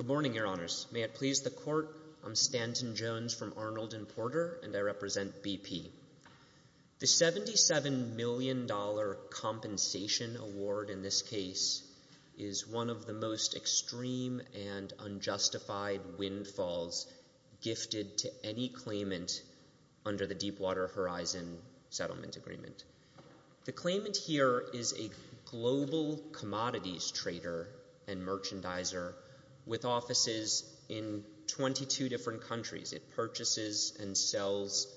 Good morning, Your Honors. May it please the Court, I'm Stanton Jones from Arnold & Porter, and I represent BP. The $77 million compensation award in this case is one of the most extreme and unjustified windfalls gifted to any claimant under the Deepwater Horizon Settlement Agreement. The claimant here is a global commodities trader and merchandiser with offices in 22 different countries. It purchases and sells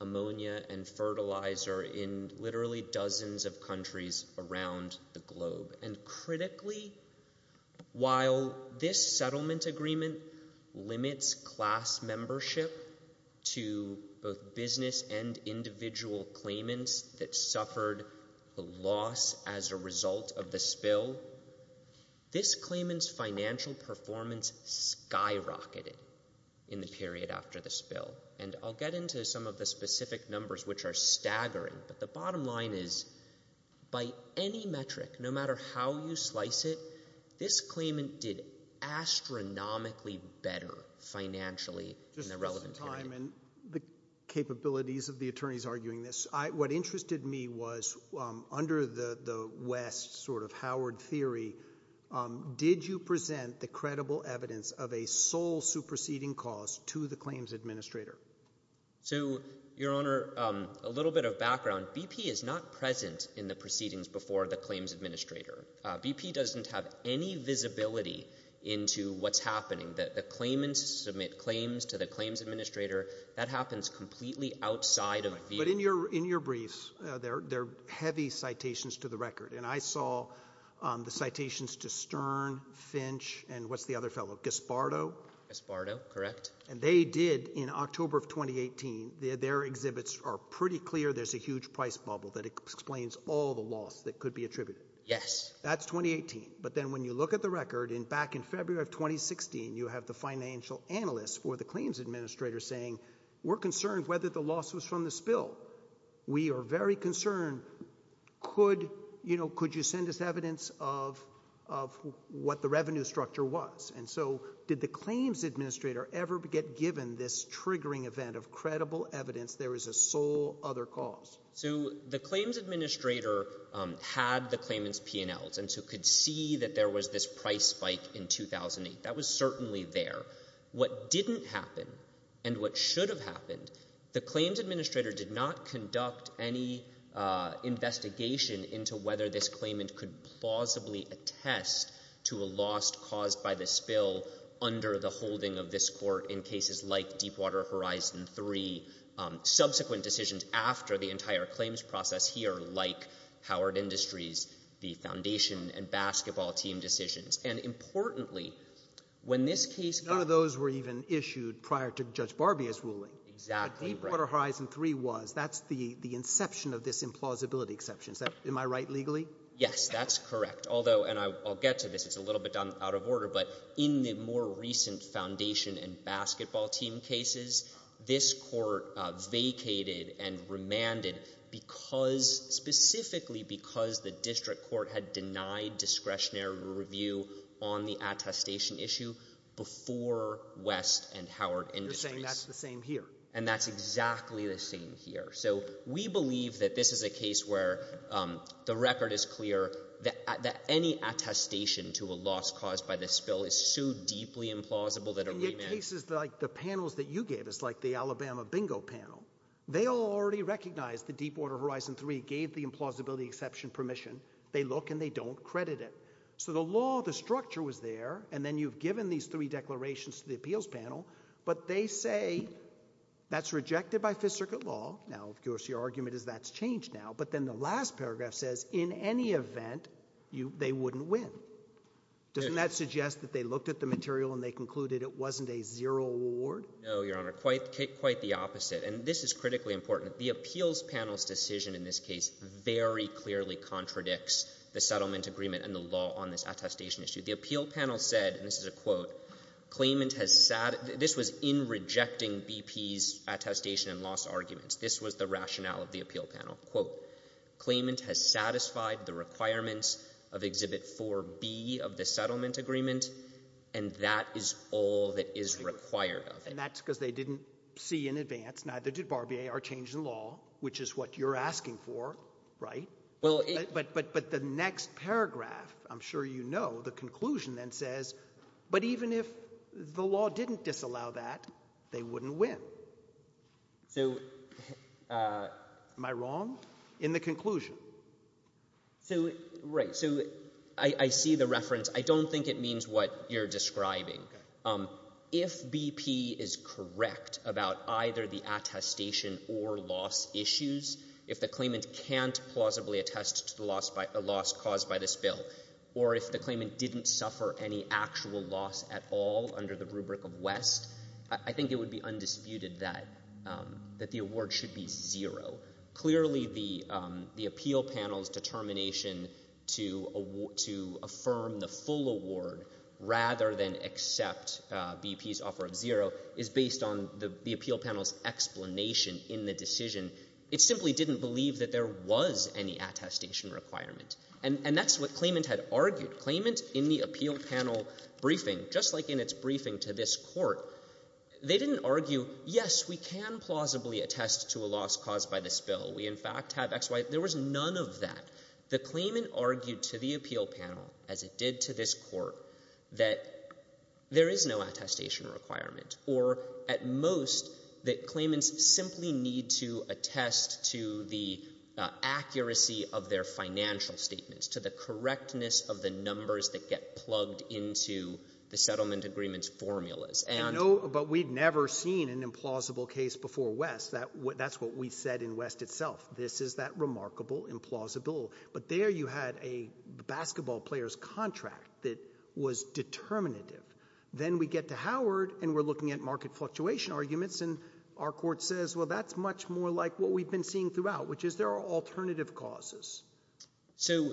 ammonia and fertilizer in literally dozens of countries around the globe. And critically, while this settlement agreement limits class membership to both business and individual claimants that suffered a loss as a result of the spill, this claimant's bill. And I'll get into some of the specific numbers, which are staggering, but the bottom line is by any metric, no matter how you slice it, this claimant did astronomically better financially in the relevant period. Just in time and the capabilities of the attorneys arguing this, what interested me was under the West sort of Howard theory, did you present the credible evidence of a sole superseding cause to the claims administrator? So your honor, a little bit of background, BP is not present in the proceedings before the claims administrator. BP doesn't have any visibility into what's happening that the claimants submit claims to the claims administrator. That happens completely outside of view. But in your, in your briefs, they're, they're heavy citations to the record. And I saw the citations to Stern, Finch, and what's the other fellow, Gispardo? Gispardo. Correct. And they did in October of 2018, their exhibits are pretty clear. There's a huge price bubble that explains all the loss that could be attributed. Yes. That's 2018. But then when you look at the record in back in February of 2016, you have the financial analysts for the claims administrator saying, we're concerned whether the loss was from the spill. We are very concerned. Could you know, could you send us evidence of, of what the revenue structure was? And so did the claims administrator ever get given this triggering event of credible evidence there is a sole other cause? So the claims administrator had the claimants' P&Ls and so could see that there was this price spike in 2008. That was certainly there. What didn't happen and what should have happened, the claims administrator did not conduct any investigation into whether this claimant could plausibly attest to a loss caused by the spill. Under the holding of this court in cases like Deepwater Horizon 3, subsequent decisions after the entire claims process here, like Howard Industries, the foundation and basketball team decisions. And importantly, when this case... None of those were even issued prior to Judge Barbie's ruling. Exactly right. Deepwater Horizon 3 was. That's the inception of this implausibility exception. Am I right legally? Yes. That's correct. Although, and I'll get to this, it's a little bit out of order, but in the more recent foundation and basketball team cases, this court vacated and remanded because, specifically because the district court had denied discretionary review on the attestation issue before West and Howard Industries. You're saying that's the same here. And that's exactly the same here. So we believe that this is a case where the record is clear that any attestation to a loss caused by the spill is so deeply implausible that a remand... And yet cases like the panels that you gave us, like the Alabama Bingo panel, they all already recognized that Deepwater Horizon 3 gave the implausibility exception permission. They look and they don't credit it. So the law, the structure was there, and then you've given these three declarations to the appeals panel, but they say that's rejected by Fifth Circuit law. Now, of course, your argument is that's changed now. But then the last paragraph says, in any event, they wouldn't win. Doesn't that suggest that they looked at the material and they concluded it wasn't a zero award? No, Your Honor. Quite the opposite. And this is critically important. The appeals panel's decision in this case very clearly contradicts the settlement agreement and the law on this attestation issue. The appeal panel said, and this is a quote, this was in rejecting BP's attestation and this was the rationale of the appeal panel, quote, claimant has satisfied the requirements of Exhibit 4B of the settlement agreement, and that is all that is required of it. And that's because they didn't see in advance, neither did Barbier, our change in law, which is what you're asking for, right? But the next paragraph, I'm sure you know, the conclusion then says, but even if the law didn't disallow that, they wouldn't win. So, am I wrong? In the conclusion. So, right, so I see the reference. I don't think it means what you're describing. If BP is correct about either the attestation or loss issues, if the claimant can't plausibly attest to the loss caused by this bill, or if the claimant didn't suffer any actual loss at all under the rubric of West, I think it would be undisputed that the award should be zero. Clearly the appeal panel's determination to affirm the full award rather than accept BP's offer of zero is based on the appeal panel's explanation in the decision. It simply didn't believe that there was any attestation requirement. And that's what claimant had argued. Claimant in the appeal panel briefing, just like in its briefing to this court, they didn't argue, yes, we can plausibly attest to a loss caused by this bill. We in fact have X, Y, there was none of that. The claimant argued to the appeal panel, as it did to this court, that there is no attestation requirement. Or, at most, that claimants simply need to attest to the accuracy of their financial statements, to the correctness of the numbers that get plugged into the settlement agreement's formulas. But we've never seen an implausible case before West. That's what we said in West itself. This is that remarkable implausibility. But there you had a basketball player's contract that was determinative. Then we get to Howard, and we're looking at market fluctuation arguments, and our court says, well, that's much more like what we've been seeing throughout, which is there are alternative causes. So,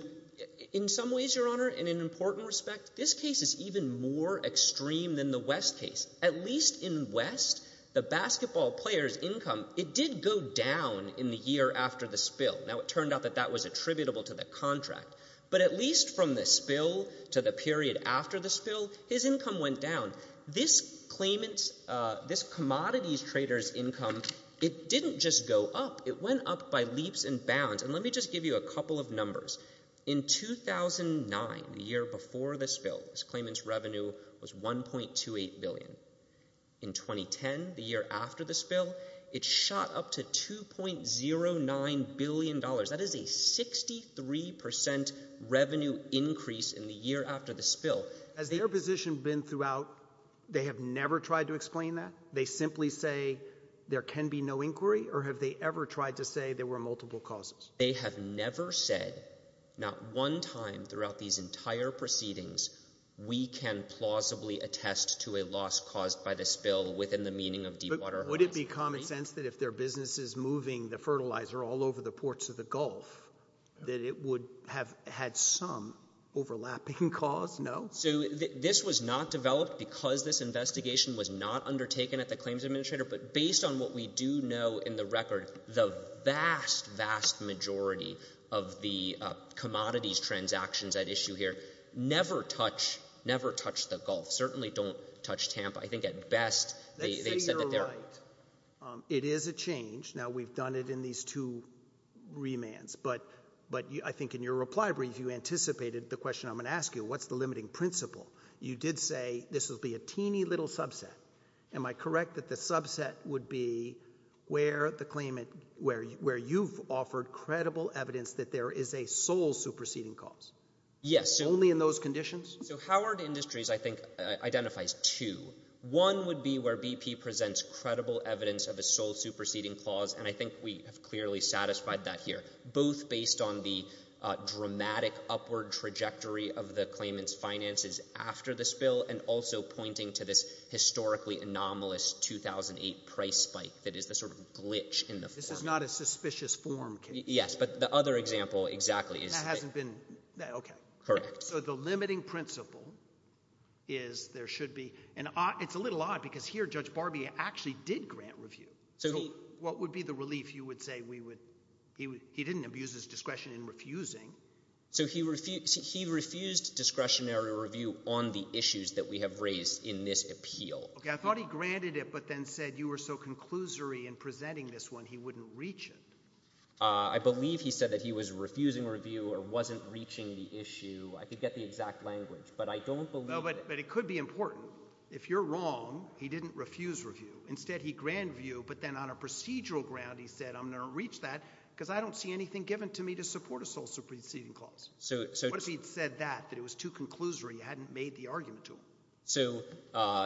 in some ways, Your Honor, in an important respect, this case is even more extreme than the West case. At least in West, the basketball player's income, it did go down in the year after the spill. Now, it turned out that that was attributable to the contract. But at least from the spill to the period after the spill, his income went down. This claimant's, this commodity trader's income, it didn't just go up, it went up by leaps and bounds. And let me just give you a couple of numbers. In 2009, the year before the spill, this claimant's revenue was $1.28 billion. In 2010, the year after the spill, it shot up to $2.09 billion. That is a 63% revenue increase in the year after the spill. Has their position been throughout, they have never tried to explain that? They simply say there can be no inquiry? Or have they ever tried to say there were multiple causes? They have never said, not one time throughout these entire proceedings, we can plausibly attest to a loss caused by the spill within the meaning of deepwater holes. Would it be common sense that if their business is moving the fertilizer all over the ports of the Gulf, that it would have had some overlapping cause? No? So, this was not developed because this investigation was not undertaken at the claims administrator. But based on what we do know in the record, the vast, vast majority of the commodities transactions at issue here never touch, never touch the Gulf. Certainly don't touch Tampa. I think at best, they've said that they're... Let's say you're right. It is a change. Now, we've done it in these two remands. But I think in your reply brief, you anticipated the question I'm going to ask you. What's the limiting principle? You did say this will be a teeny little subset. Am I correct that the subset would be where the claimant, where you've offered credible evidence that there is a sole superseding cause? Yes. Only in those conditions? So, Howard Industries, I think, identifies two. One would be where BP presents credible evidence of a sole superseding clause, and I think we have clearly satisfied that here. Both based on the dramatic upward trajectory of the claimant's finances after the spill and also pointing to this historically anomalous 2008 price spike that is the sort of glitch in the form. This is not a suspicious form case. Yes. But the other example, exactly, is... That hasn't been... Okay. Correct. So, the limiting principle is there should be... It's a little odd because here, Judge Barbee actually did grant review. What would be the relief? You would say we would... He didn't abuse his discretion in refusing. So, he refused discretionary review on the issues that we have raised in this appeal. Okay. I thought he granted it but then said you were so conclusory in presenting this one, he wouldn't reach it. I believe he said that he was refusing review or wasn't reaching the issue. I could get the exact language, but I don't believe... No, but it could be important. If you're wrong, he didn't refuse review. Instead, he grant review, but then on a procedural ground, he said, I'm going to reach that because I don't see anything given to me to support a social proceeding clause. So... What if he'd said that, that it was too conclusory, you hadn't made the argument to him? So,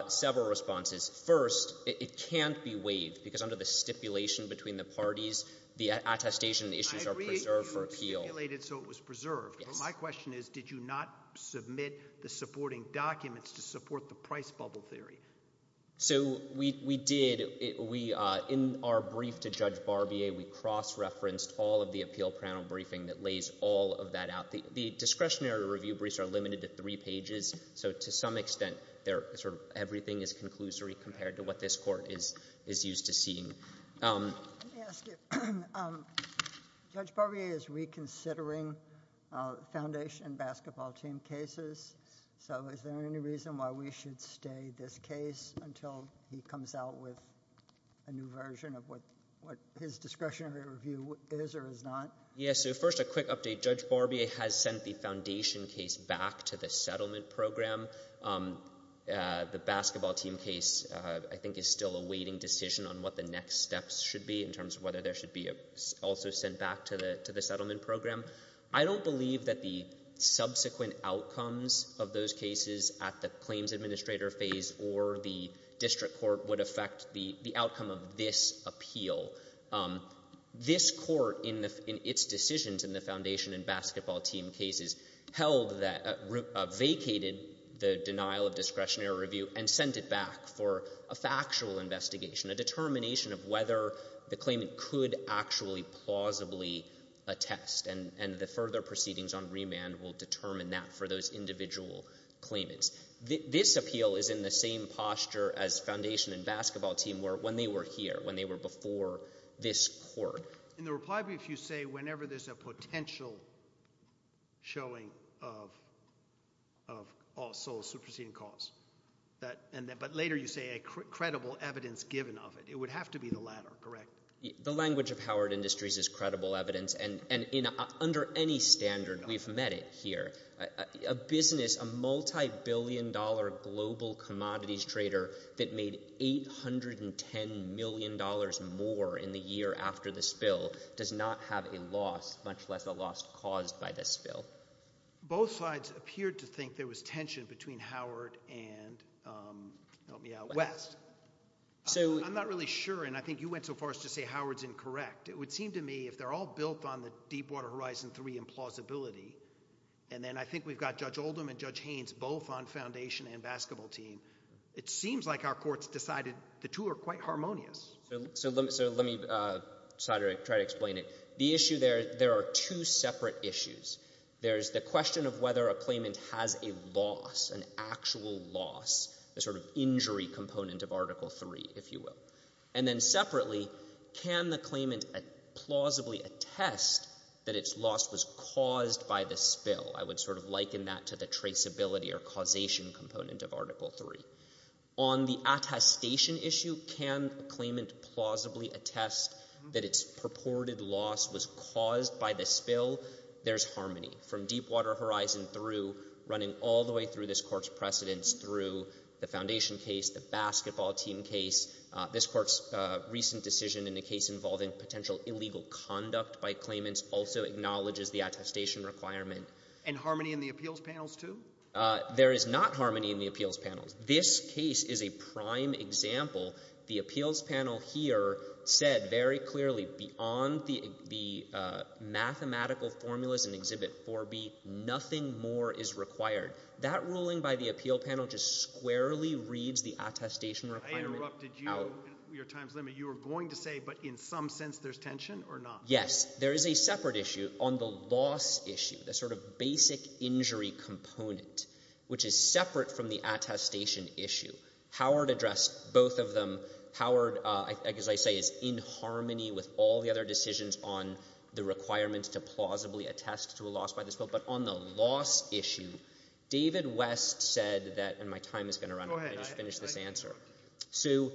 several responses. First, it can't be waived because under the stipulation between the parties, the attestation issues are preserved for appeal. I agree that you stipulated so it was preserved. Yes. But my question is, did you not submit the supporting documents to support the price bubble theory? So, we did. In our brief to Judge Barbier, we cross-referenced all of the appeal panel briefing that lays all of that out. The discretionary review briefs are limited to three pages, so to some extent, everything is conclusory compared to what this court is used to seeing. Let me ask you, Judge Barbier is reconsidering foundation basketball team cases, so is there any reason why we should stay this case until he comes out with a new version of what his discretionary review is or is not? Yes. So, first, a quick update. Judge Barbier has sent the foundation case back to the settlement program. The basketball team case, I think, is still a waiting decision on what the next steps should be in terms of whether there should be also sent back to the settlement program. I don't believe that the subsequent outcomes of those cases at the claims administrator phase or the district court would affect the outcome of this appeal. This court, in its decisions in the foundation and basketball team cases, held that, vacated the denial of discretionary review and sent it back for a factual investigation, a determination of whether the claimant could actually plausibly attest, and the further proceedings on remand will determine that for those individual claimants. This appeal is in the same posture as foundation and basketball team were when they were here, when they were before this court. In the reply brief, you say whenever there's a potential showing of also superseding cause, but later you say a credible evidence given of it. It would have to be the latter, correct? The language of Howard Industries is credible evidence, and under any standard, we've met it here. A business, a multi-billion dollar global commodities trader that made $810 million more in the year after the spill does not have a loss, much less a loss caused by the spill. Both sides appeared to think there was tension between Howard and, help me out, West. I'm not really sure, and I think you went so far as to say Howard's incorrect. It would seem to me if they're all built on the Deepwater Horizon 3 implausibility, and then I think we've got Judge Oldham and Judge Haynes both on foundation and basketball team, it seems like our courts decided the two are quite harmonious. So let me try to explain it. The issue there, there are two separate issues. There's the question of whether a claimant has a loss, an actual loss, a sort of injury component of Article 3, if you will. And then separately, can the claimant plausibly attest that its loss was caused by the spill? I would sort of liken that to the traceability or causation component of Article 3. On the attestation issue, can a claimant plausibly attest that its purported loss was caused by the spill? There's harmony from Deepwater Horizon through running all the way through this court's precedents through the foundation case, the basketball team case. This court's recent decision in a case involving potential illegal conduct by claimants also acknowledges the attestation requirement. And harmony in the appeals panels too? There is not harmony in the appeals panels. This case is a prime example. The appeals panel here said very clearly beyond the mathematical formulas in Exhibit 4B, nothing more is required. That ruling by the appeal panel just squarely reads the attestation requirement out. I interrupted you. Your time's limited. You were going to say, but in some sense there's tension or not? Yes. There is a separate issue on the loss issue, the sort of basic injury component, which is separate from the attestation issue. Howard addressed both of them. Howard, as I say, is in harmony with all the other decisions on the requirement to plausibly attest to a loss by the spill. But on the loss issue, David West said that, and my time is going to run out. Go ahead. I just finished this answer. So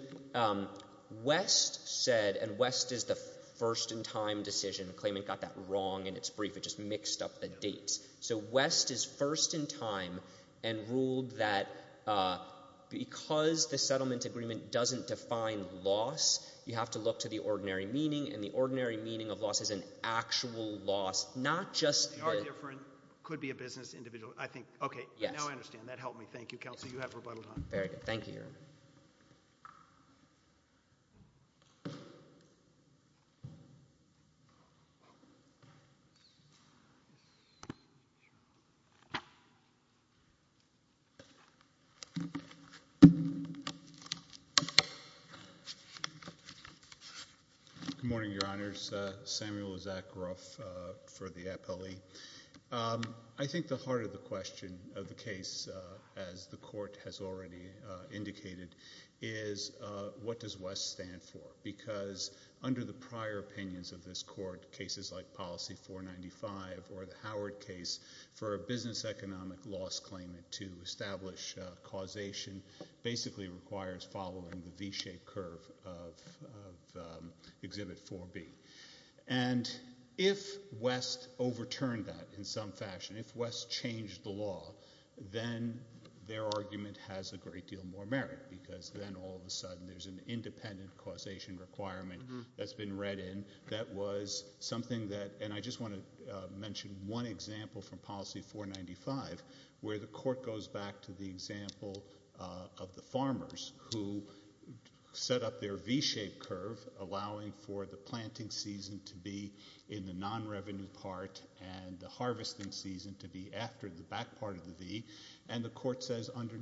West said, and West is the first in time decision, the claimant got that wrong in its brief. It just mixed up the dates. So West is first in time and ruled that because the settlement agreement doesn't define loss, you have to look to the ordinary meaning, and the ordinary meaning of loss is an actual loss, not just the- It could be a business individual. I think, okay. Now I understand. That helped me. Thank you, counsel. Very good. Thank you, Your Honor. Good morning, Your Honors. Samuel Zakaroff for the Appellee. I think the heart of the question of the case, as the Court has already indicated, is what does West stand for? Because under the prior opinions of this Court, cases like Policy 495 or the Howard case for a business economic loss claimant to establish causation basically requires following the V-shaped curve of Exhibit 4B. And if West overturned that in some fashion, if West changed the law, then their argument has a great deal more merit, because then all of a sudden there's an independent causation requirement that's been read in that was something that, and I just want to mention one example from Policy 495, where the Court goes back to the example of the farmers who set up their V-shaped curve, allowing for the planting season to be in the non-revenue part and the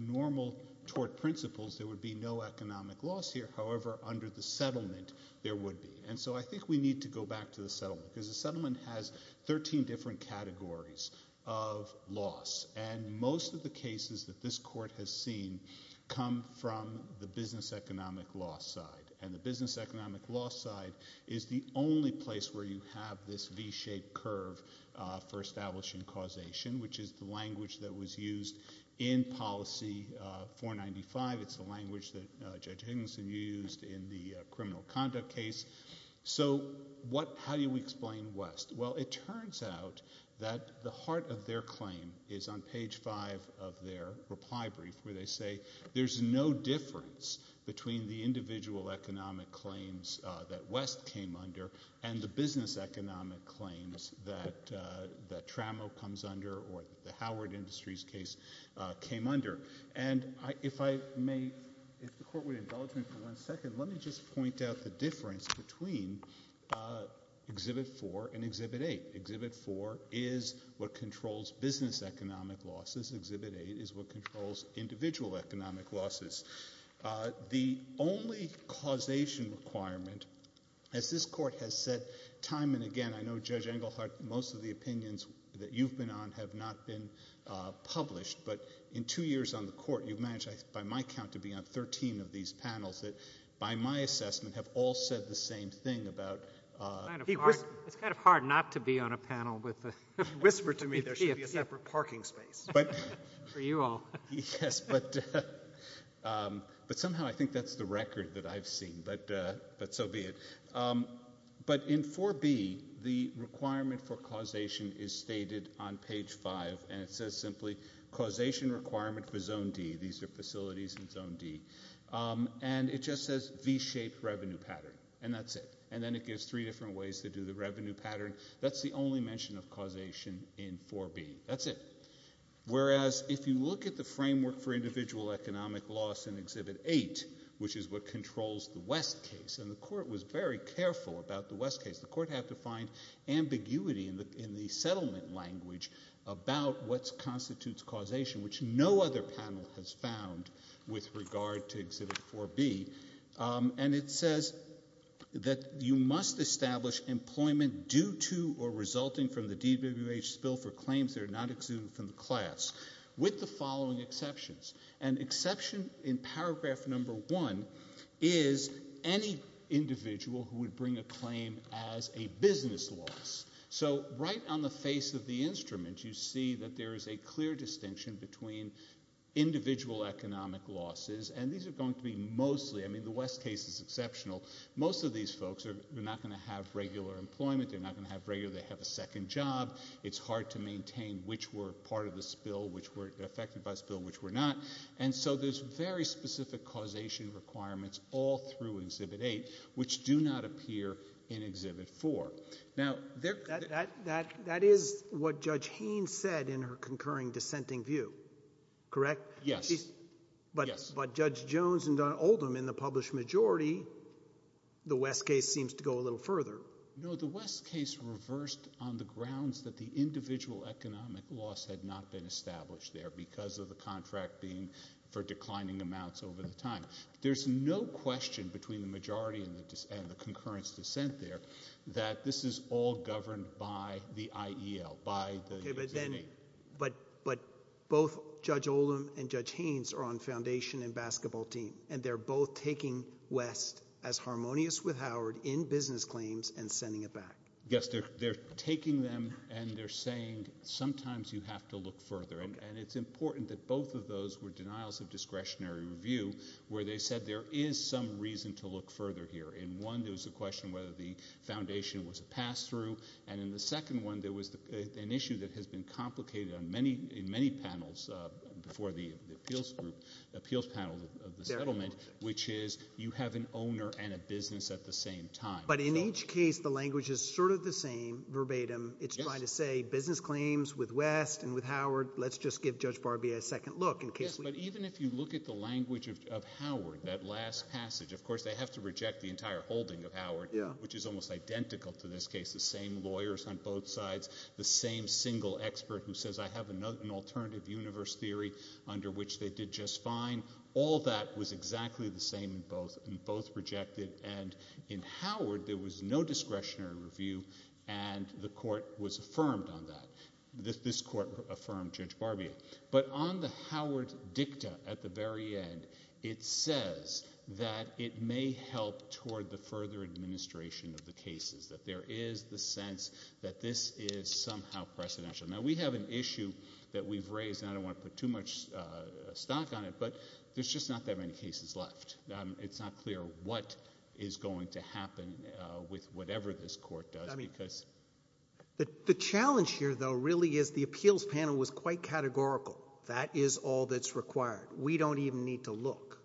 normal tort principles, there would be no economic loss here. However, under the settlement, there would be. And so I think we need to go back to the settlement, because the settlement has 13 different categories of loss, and most of the cases that this Court has seen come from the business economic loss side. And the business economic loss side is the only place where you have this V-shaped curve for establishing causation, which is the language that was used in Policy 495. It's the language that Judge Higginson used in the criminal conduct case. So how do you explain West? Well, it turns out that the heart of their claim is on page 5 of their reply brief, where they say there's no difference between the individual economic claims that West came under and the business economic claims that Tramo comes under or the Howard Industries case came under. And if I may, if the Court would indulge me for one second, let me just point out the difference between Exhibit 4 and Exhibit 8. Exhibit 4 is what controls business economic losses. Exhibit 8 is what controls individual economic losses. The only causation requirement, as this Court has said time and again, I know, Judge Engelhardt, most of the opinions that you've been on have not been published, but in two years on the Court, you've managed, by my count, to be on 13 of these panels that, by my assessment, have all said the same thing about... It's kind of hard not to be on a panel with a PFP. He whispered to me there should be a separate parking space for you all. Yes, but somehow I think that's the record that I've seen, but so be it. But in 4B, the requirement for causation is stated on page 5, and it says simply, causation requirement for Zone D. These are facilities in Zone D. And it just says V-shaped revenue pattern, and that's it. And then it gives three different ways to do the revenue pattern. That's the only mention of causation in 4B. That's it. Whereas, if you look at the framework for individual economic loss in Exhibit 8, which is what controls the West case, and the Court was very careful about the West case. The Court had to find ambiguity in the settlement language about what constitutes causation, which no other panel has found with regard to Exhibit 4B. And it says that you must establish employment due to or resulting from the DWH spill for the class, with the following exceptions. An exception in paragraph number one is any individual who would bring a claim as a business loss. So right on the face of the instrument, you see that there is a clear distinction between individual economic losses, and these are going to be mostly, I mean, the West case is exceptional. Most of these folks are not going to have regular employment. They're not going to have regular, they have a second job. It's hard to maintain which were part of the spill, which were affected by the spill, which were not. And so there's very specific causation requirements all through Exhibit 8, which do not appear in Exhibit 4. Now, there— That, that, that is what Judge Haynes said in her concurring dissenting view, correct? Yes. Yes. But, but Judge Jones and Don Oldham, in the published majority, the West case seems to go a little further. No, the West case reversed on the grounds that the individual economic loss had not been established there because of the contract being for declining amounts over the time. There's no question between the majority and the, and the concurrence dissent there that this is all governed by the IEL, by the— Okay, but then, but, but both Judge Oldham and Judge Haynes are on foundation and basketball team, and they're both taking West as harmonious with Howard in business claims and sending it back. Yes, they're, they're taking them, and they're saying sometimes you have to look further. And it's important that both of those were denials of discretionary review, where they said there is some reason to look further here. In one, there was a question whether the foundation was a pass-through. And in the second one, there was an issue that has been complicated on many, in many appeals group, appeals panel of the settlement, which is you have an owner and a business at the same time. But in each case, the language is sort of the same verbatim. It's trying to say business claims with West and with Howard. Let's just give Judge Barbier a second look in case we— Yes, but even if you look at the language of, of Howard, that last passage, of course, they have to reject the entire holding of Howard, which is almost identical to this case. The same lawyers on both sides, the same single expert who says, I have another, an alternative universe theory under which they did just fine. All that was exactly the same in both, and both rejected. And in Howard, there was no discretionary review, and the court was affirmed on that. This court affirmed Judge Barbier. But on the Howard dicta at the very end, it says that it may help toward the further administration of the cases, that there is the sense that this is somehow precedential. Now, we have an issue that we've raised, and I don't want to put too much stock on it, but there's just not that many cases left. It's not clear what is going to happen with whatever this court does, because— The challenge here, though, really is the appeals panel was quite categorical. That is all that's required. We don't even need to look.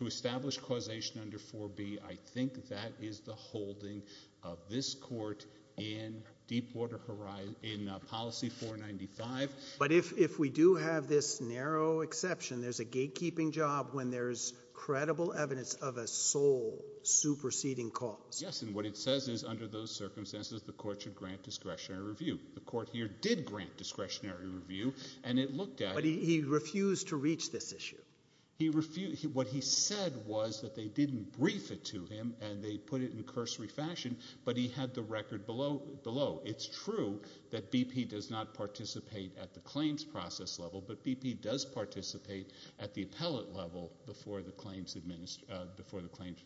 To establish causation under 4B, I think that is the holding of this court in Deepwater in policy 495. But if we do have this narrow exception, there's a gatekeeping job when there's credible evidence of a sole superseding cause. Yes, and what it says is under those circumstances, the court should grant discretionary review. The court here did grant discretionary review, and it looked at— But he refused to reach this issue. He refused. What he said was that they didn't brief it to him, and they put it in cursory fashion, but he had the record below. It's true that BP does not participate at the claims process level, but BP does participate at the appellate level before the claims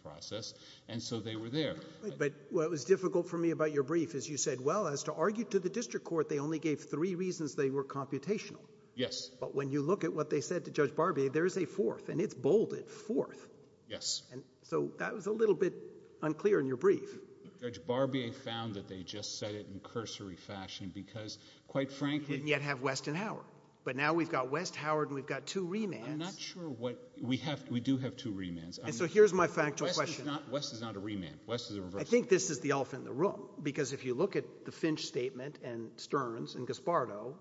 process, and so they were there. But what was difficult for me about your brief is you said, well, as to argue to the district court, they only gave three reasons they were computational. Yes. But when you look at what they said to Judge Barbier, there's a fourth, and it's bolded, fourth. Yes. So that was a little bit unclear in your brief. Judge Barbier found that they just said it in cursory fashion because, quite frankly— Didn't yet have West and Howard. But now we've got West, Howard, and we've got two remands. I'm not sure what—we do have two remands. And so here's my factual question— West is not a remand. West is a reversal. I think this is the elephant in the room, because if you look at the Finch statement and Stearns and Gaspardo,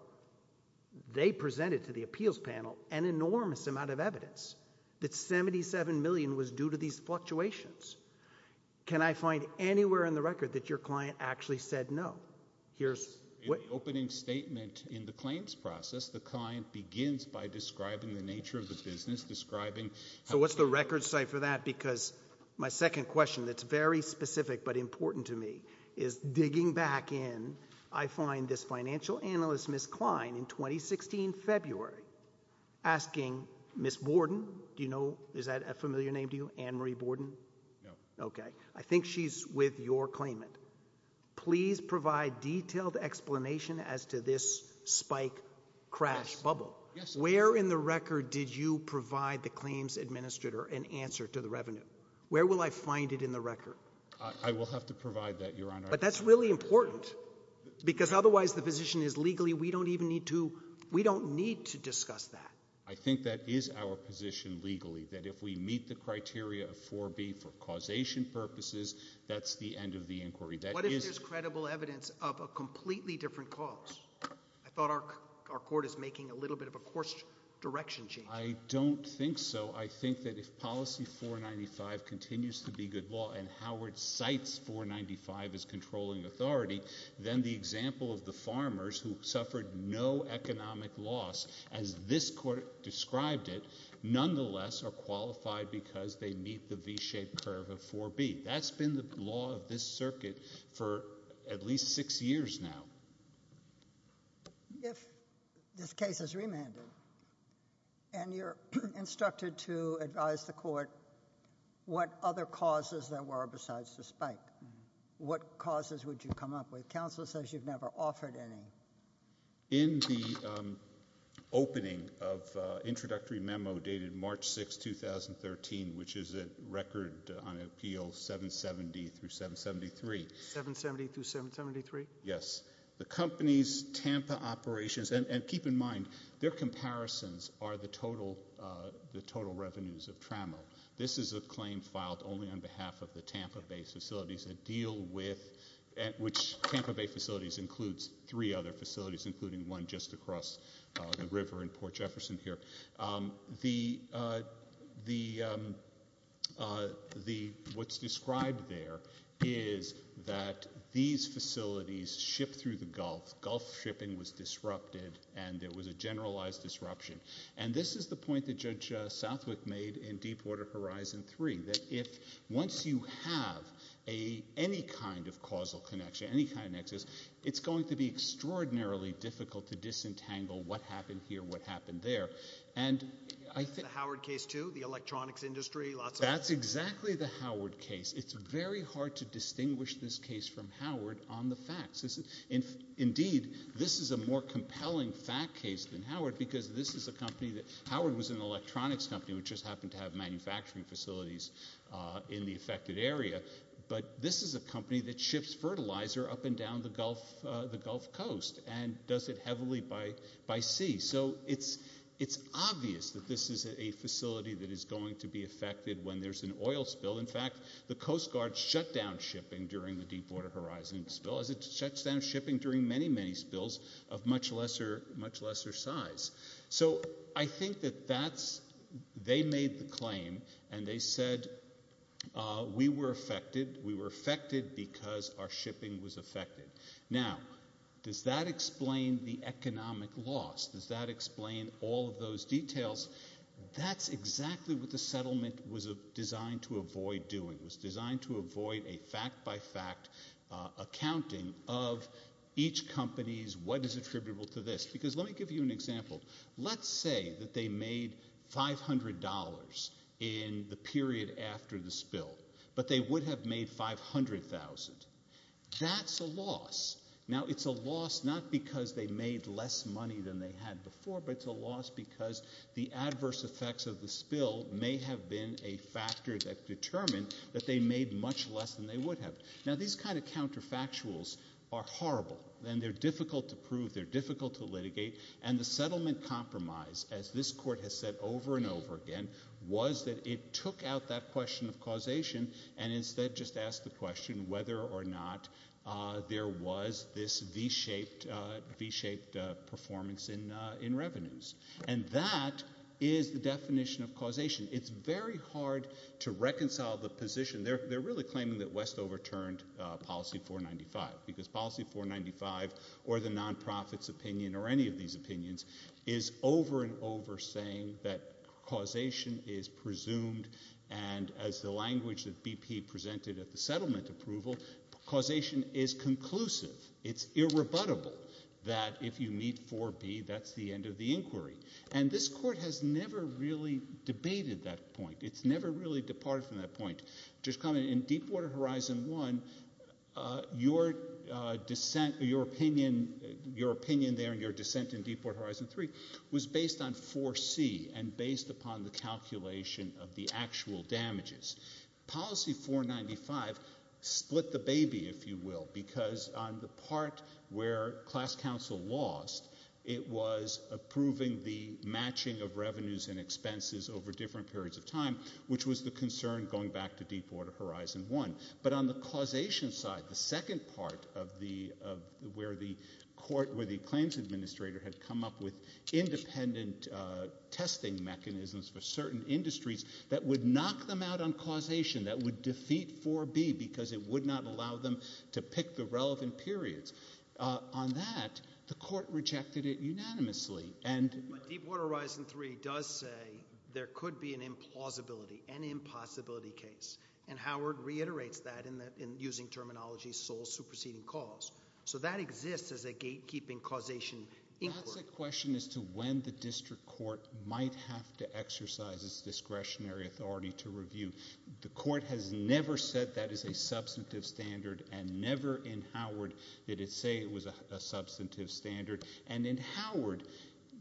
they presented to the appeals panel an enormous amount of evidence that $77 million was due to these fluctuations. Can I find anywhere in the record that your client actually said no? Here's what— In the opening statement in the claims process, the client begins by describing the nature of the business, describing— So what's the record site for that? Because my second question that's very specific but important to me is, digging back in, I find this financial analyst, Ms. Klein, in 2016, February, asking Ms. Borden—do you know? Is that a familiar name to you? Ann Marie Borden? No. Okay. I think she's with your claimant. Please provide detailed explanation as to this spike crash bubble. Yes. Where in the record did you provide the claims administrator an answer to the revenue? Where will I find it in the record? I will have to provide that, Your Honor. But that's really important, because otherwise the position is legally we don't even need to—we don't need to discuss that. I think that is our position legally, that if we meet the criteria of 4B for causation purposes, that's the end of the inquiry. That is— What if there's credible evidence of a completely different cause? I thought our court is making a little bit of a course direction change. I don't think so. I think that if policy 495 continues to be good law and Howard cites 495 as controlling authority, then the example of the farmers who suffered no economic loss, as this court described it, nonetheless are qualified because they meet the V-shaped curve of 4B. That's been the law of this circuit for at least six years now. If this case is remanded and you're instructed to advise the court what other causes there are, what would you come up with? Counsel says you've never offered any. In the opening of introductory memo dated March 6, 2013, which is a record on appeal 770 through 773— 770 through 773? Yes. The company's Tampa operations—and keep in mind, their comparisons are the total revenues of Tramo. This is a claim filed only on behalf of the Tampa Bay facilities that deal with—which Tampa Bay facilities includes three other facilities, including one just across the river in Port Jefferson here. What's described there is that these facilities shipped through the Gulf. Gulf shipping was disrupted, and there was a generalized disruption. And this is the point that Judge Southwick made in Deepwater Horizon 3, that once you have any kind of causal connection, any kind of nexus, it's going to be extraordinarily difficult to disentangle what happened here, what happened there. The Howard case too, the electronics industry, lots of— That's exactly the Howard case. It's very hard to distinguish this case from Howard on the facts. Indeed, this is a more compelling fact case than Howard because this is a company that— Howard was an electronics company, which just happened to have manufacturing facilities in the affected area. But this is a company that ships fertilizer up and down the Gulf Coast and does it heavily by sea. So it's obvious that this is a facility that is going to be affected when there's an oil spill. In fact, the Coast Guard shut down shipping during the Deepwater Horizon spill, as it shuts down shipping during many, many spills of much lesser size. So I think that they made the claim and they said, we were affected. We were affected because our shipping was affected. Now, does that explain the economic loss? Does that explain all of those details? That's exactly what the settlement was designed to avoid doing. It was designed to avoid a fact-by-fact accounting of each company's what is attributable to this. Because let me give you an example. Let's say that they made $500 in the period after the spill, but they would have made $500,000. That's a loss. Now, it's a loss not because they made less money than they had before, but it's a loss because the adverse effects of the spill may have been a factor that determined that they made much less than they would have. Now, these kind of counterfactuals are horrible and they're difficult to prove. They're difficult to litigate. And the settlement compromise, as this court has said over and over again, was that it took out that question of causation and instead just asked the question whether or not there was this V-shaped performance in revenues. And that is the definition of causation. It's very hard to reconcile the position. They're really claiming that West overturned policy 495 because policy 495 or the non-profit's opinion or any of these opinions is over and over saying that causation is presumed and as the language that BP presented at the settlement approval, causation is conclusive. It's irrebuttable that if you meet 4B, that's the end of the inquiry. And this court has never really debated that point. It's never really departed from that point. Just comment, in Deepwater Horizon 1, your opinion there and your dissent in Deepwater Horizon 1, you have uttered the phrase, causal damages. Policy 495 split the baby if you will, because on the part where class council lost, it was approving the matching of revenues and expenses over different periods of time, which was the concern going back to Deepwater Horizon 1. But on the causation side, the second part of the, where the court, where the claims administrator had come up with independent testing mechanisms for certain industries that would knock them out on causation, that would defeat 4B because it would not allow them to pick the relevant periods. On that, the court rejected it unanimously. But Deepwater Horizon 3 does say there could be an implausibility, an impossibility case. And Howard reiterates that in using terminology sole superseding cause. So that exists as a gatekeeping causation inquiry. That's a question as to when the district court might have to exercise its discretionary authority to review. The court has never said that is a substantive standard and never in Howard did it say it was a substantive standard. And in Howard,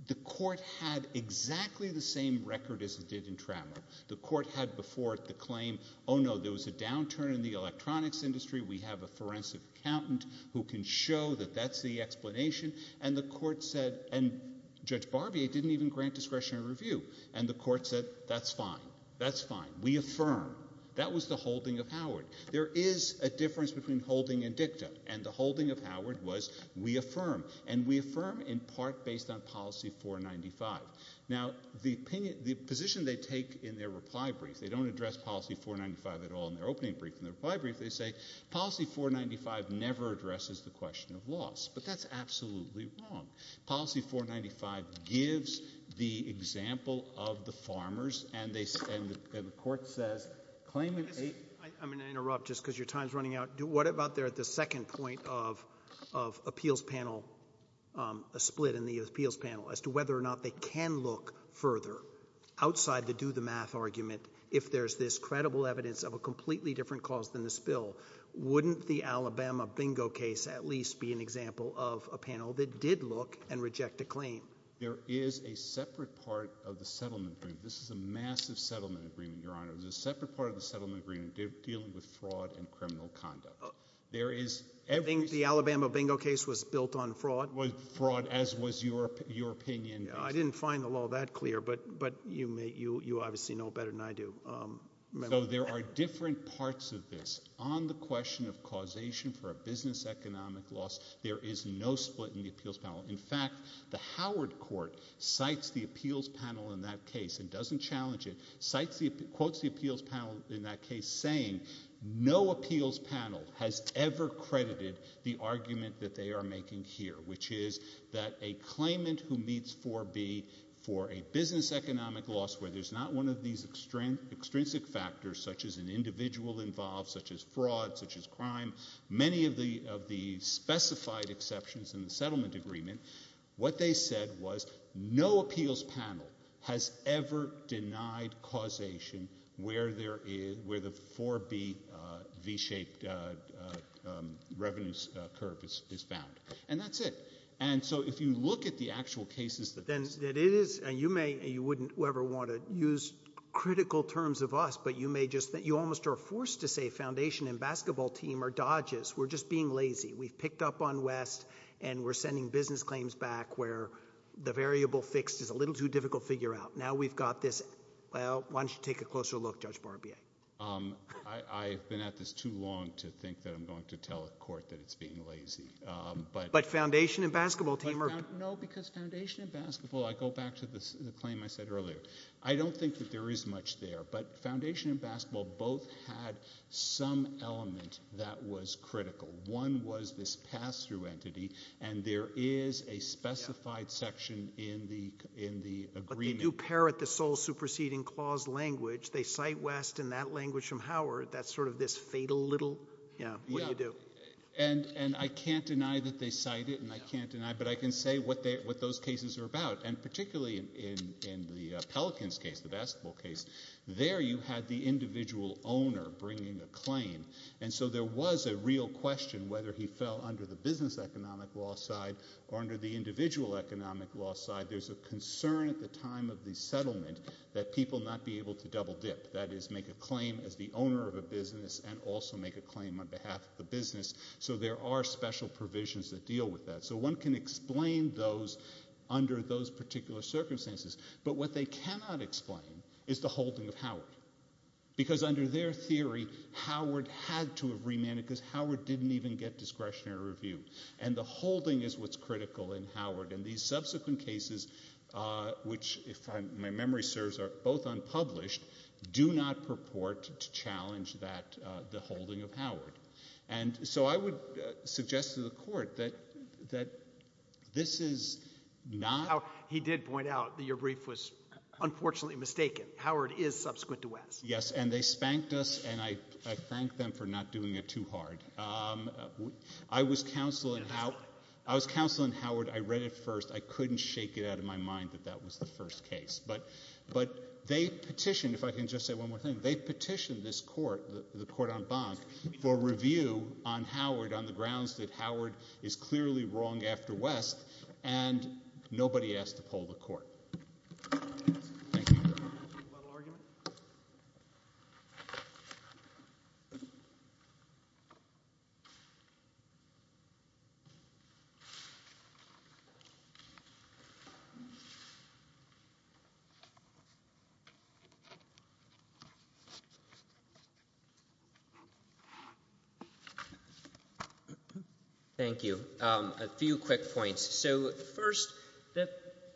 the court had exactly the same record as it did in Trammel. The court had before it the claim, oh no, there was a downturn in the electronics industry. We have a forensic accountant who can show that that's the explanation. And the court said, and Judge Barbier didn't even grant discretionary review. And the court said, that's fine. That's fine. We affirm. That was the holding of Howard. There is a difference between holding and dicta. And the holding of Howard was we affirm. And we affirm in part based on policy 495. Now, the position they take in their reply brief, they don't address policy 495 at all in their opening brief. In their reply brief, they say policy 495 never addresses the question of loss. But that's absolutely wrong. Policy 495 gives the example of the farmers. And the court says claimant eight. I'm going to interrupt just because your time is running out. What about there at the second point of appeals panel, a split in the appeals panel, as to whether or not they can look further outside the do the math argument if there's this credible evidence of a completely different cause than this bill. Wouldn't the Alabama bingo case at least be an example of a panel that did look and reject a claim? There is a separate part of the settlement agreement. This is a massive settlement agreement, your honor. There's a separate part of the settlement agreement dealing with fraud and criminal conduct. There is everything. The Alabama bingo case was built on fraud. Was fraud as was your opinion. I didn't find the law that clear. But you obviously know better than I do. So there are different parts of this. On the question of causation for a business economic loss, there is no split in the appeals panel. In fact, the Howard court cites the appeals panel in that case and doesn't challenge it, quotes the appeals panel in that case saying no appeals panel has ever credited the argument that they are making here, which is that a claimant who meets 4B for a business economic loss where there's not one of these extrinsic factors such as an individual involved, such as fraud, such as crime, many of the specified exceptions in the settlement agreement, what they said was no appeals panel has ever denied causation where the 4B V-shaped revenue curve is found. And that's it. And so if you look at the actual cases that it is, and you may, you wouldn't ever want to use critical terms of us, but you may just, you almost are forced to say foundation and basketball team are dodges. We're just being lazy. We've picked up on West and we're sending business claims back where the variable fixed is a little too difficult to figure out. Now we've got this, well, why don't you take a closer look, Judge Barbier. I've been at this too long to think that I'm going to tell a court that it's being lazy, but. But foundation and basketball team are. No, because foundation and basketball, I go back to the claim I said earlier, I don't think that there is much there, but foundation and basketball both had some element that was critical. One was this pass-through entity and there is a specified section in the agreement. They do parrot the sole superseding clause language. They cite West in that language from Howard. That's sort of this fatal little, you know, what do you do? And I can't deny that they cite it and I can't deny, but I can say what those cases are about. And particularly in the Pelicans case, the basketball case, there you had the individual owner bringing a claim. And so there was a real question whether he fell under the business economic law side or under the individual economic law side. There's a concern at the time of the settlement that people not be able to double dip. That is, make a claim as the owner of a business and also make a claim on behalf of the business. So there are special provisions that deal with that. So one can explain those under those particular circumstances. But what they cannot explain is the holding of Howard. Because under their theory, Howard had to have remanded because Howard didn't even get discretionary review. And the holding is what's critical in Howard. And these subsequent cases, which if my memory serves are both unpublished, do not purport to challenge that, the holding of Howard. And so I would suggest to the court that this is not. He did point out that your brief was unfortunately mistaken. Howard is subsequent to West. Yes. And they spanked us and I thank them for not doing it too hard. I was counsel in Howard. I read it first. I couldn't shake it out of my mind that that was the first case. But they petitioned, if I can just say one more thing. They petitioned this court, the court on Bonk, for review on Howard on the grounds that Howard is clearly wrong after West. And nobody asked to pull the court. Thank you. A little argument? Thank you. A few quick points. So first, the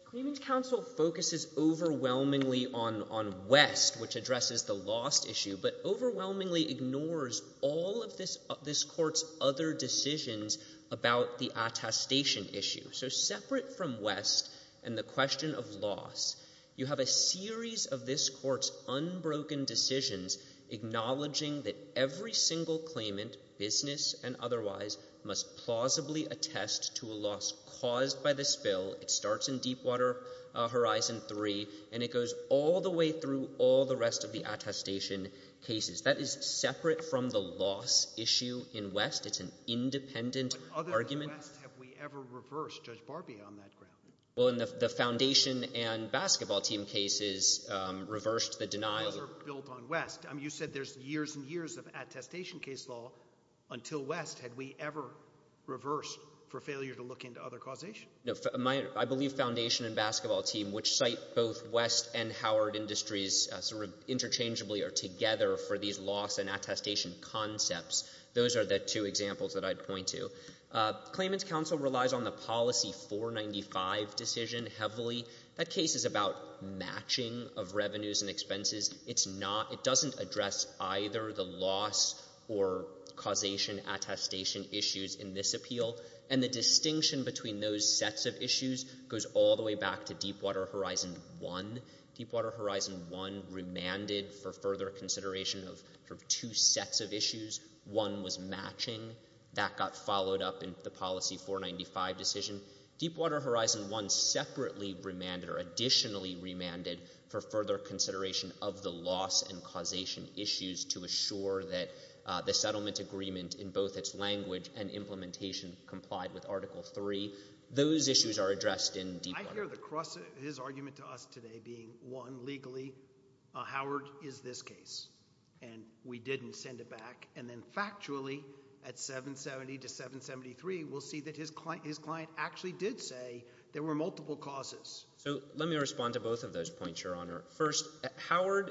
Claimant's Counsel focuses overwhelmingly on West, which addresses the lost issue, but overwhelmingly ignores all of this court's other decisions about the attestation issue. So separate from West and the question of loss, you have a series of this court's unbroken decisions acknowledging that every single claimant, business and otherwise, must plausibly attest to a loss caused by the spill. It starts in Deepwater Horizon 3, and it goes all the way through all the rest of the attestation cases. That is separate from the loss issue in West. It's an independent argument. But other than West, have we ever reversed Judge Barbier on that ground? Well, in the foundation and basketball team cases, reversed the denial. The laws are built on West. I mean, you said there's years and years of attestation case law until West. Had we ever reversed for failure to look into other causation? No. I believe foundation and basketball team, which cite both West and Howard industries interchangeably or together for these loss and attestation concepts. Those are the two examples that I'd point to. Claimant's Counsel relies on the policy 495 decision heavily. That case is about matching of revenues and expenses. It doesn't address either the loss or causation attestation issues in this appeal. And the distinction between those sets of issues goes all the way back to Deepwater Horizon 1. Deepwater Horizon 1 remanded for further consideration of two sets of issues. One was matching. That got followed up in the policy 495 decision. Deepwater Horizon 1 separately remanded or additionally remanded for further consideration of the loss and causation issues to assure that the settlement agreement in both its language and implementation complied with Article 3. Those issues are addressed in Deepwater. I hear the cross his argument to us today being one legally. Howard is this case and we didn't send it back and then factually at 770 to 773. We'll see that his client his client actually did say there were multiple causes. So let me respond to both of those points. Your Honor first Howard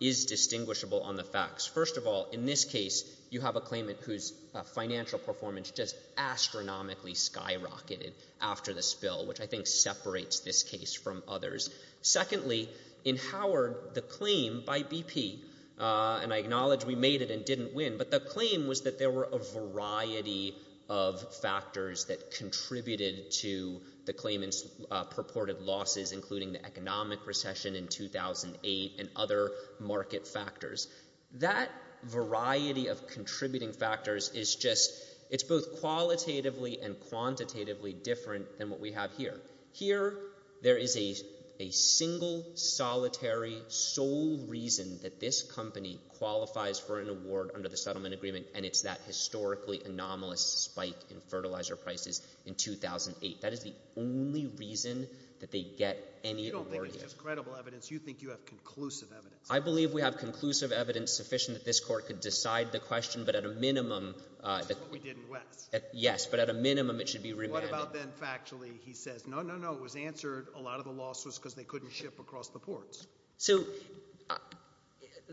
is distinguishable on the facts. First of all in this case, you have a claimant whose financial performance just astronomically skyrocketed after the spill which I think separates this case from others. Secondly in Howard the claim by BP and I acknowledge we made it and didn't win but the claim was that there were a variety of factors that contributed to the claimants purported losses including the economic recession in 2008 and other market factors. That variety of contributing factors is just it's both qualitatively and quantitatively different than what we have here. Here there is a single solitary sole reason that this company qualifies for an award under the settlement agreement and it's that historically anomalous spike in fertilizer prices in 2008. That is the only reason that they get any more just credible evidence. You think you have conclusive evidence. I believe we have conclusive evidence sufficient that this court could decide the question but at a minimum that we didn't West at yes, but at a minimum it should be remanded about then factually he says no no no it was answered a lot of the losses because they couldn't ship across the ports. So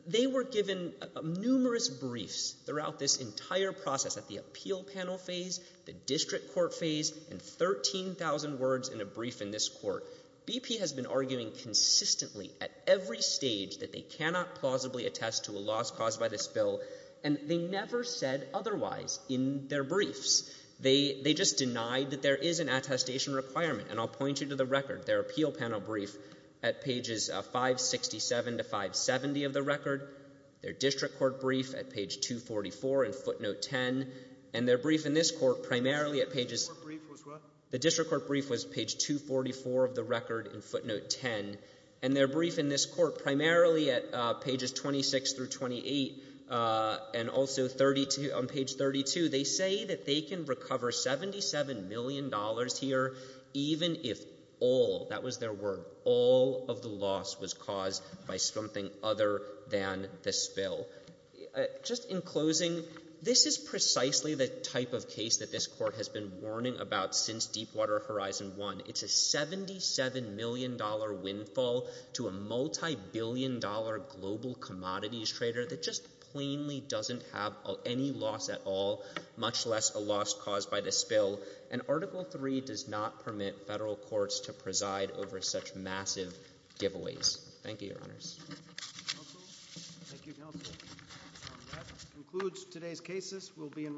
they were given numerous briefs throughout this entire process at the appeal panel phase the district court phase and 13,000 words in a brief in this court BP has been arguing consistently at every stage that they cannot plausibly attest to a loss caused by this bill and they never said otherwise in their briefs. They they just denied that there is an attestation requirement and I'll point you to the record their appeal panel brief at pages of 567 to 570 of the record their district court brief at page 244 and footnote 10 and their brief in this court primarily at pages the district court brief was page 244 of the record and footnote 10 and their brief in this court primarily at pages 26 through 28 and also 32 on page 32. They say that they can recover 77 million dollars here. Even if all that was there were all of the loss was caused by something other than the spill just in closing. This is precisely the type of case that this court has been warning about since Deepwater Horizon 1. It's a 77 million dollar windfall to a multi-billion dollar global commodities trader that just plainly doesn't have any loss at all much less a loss caused by the spill and article 3 does not permit federal courts to preside over such massive giveaways. Thank you, your honors. Today's cases will be in.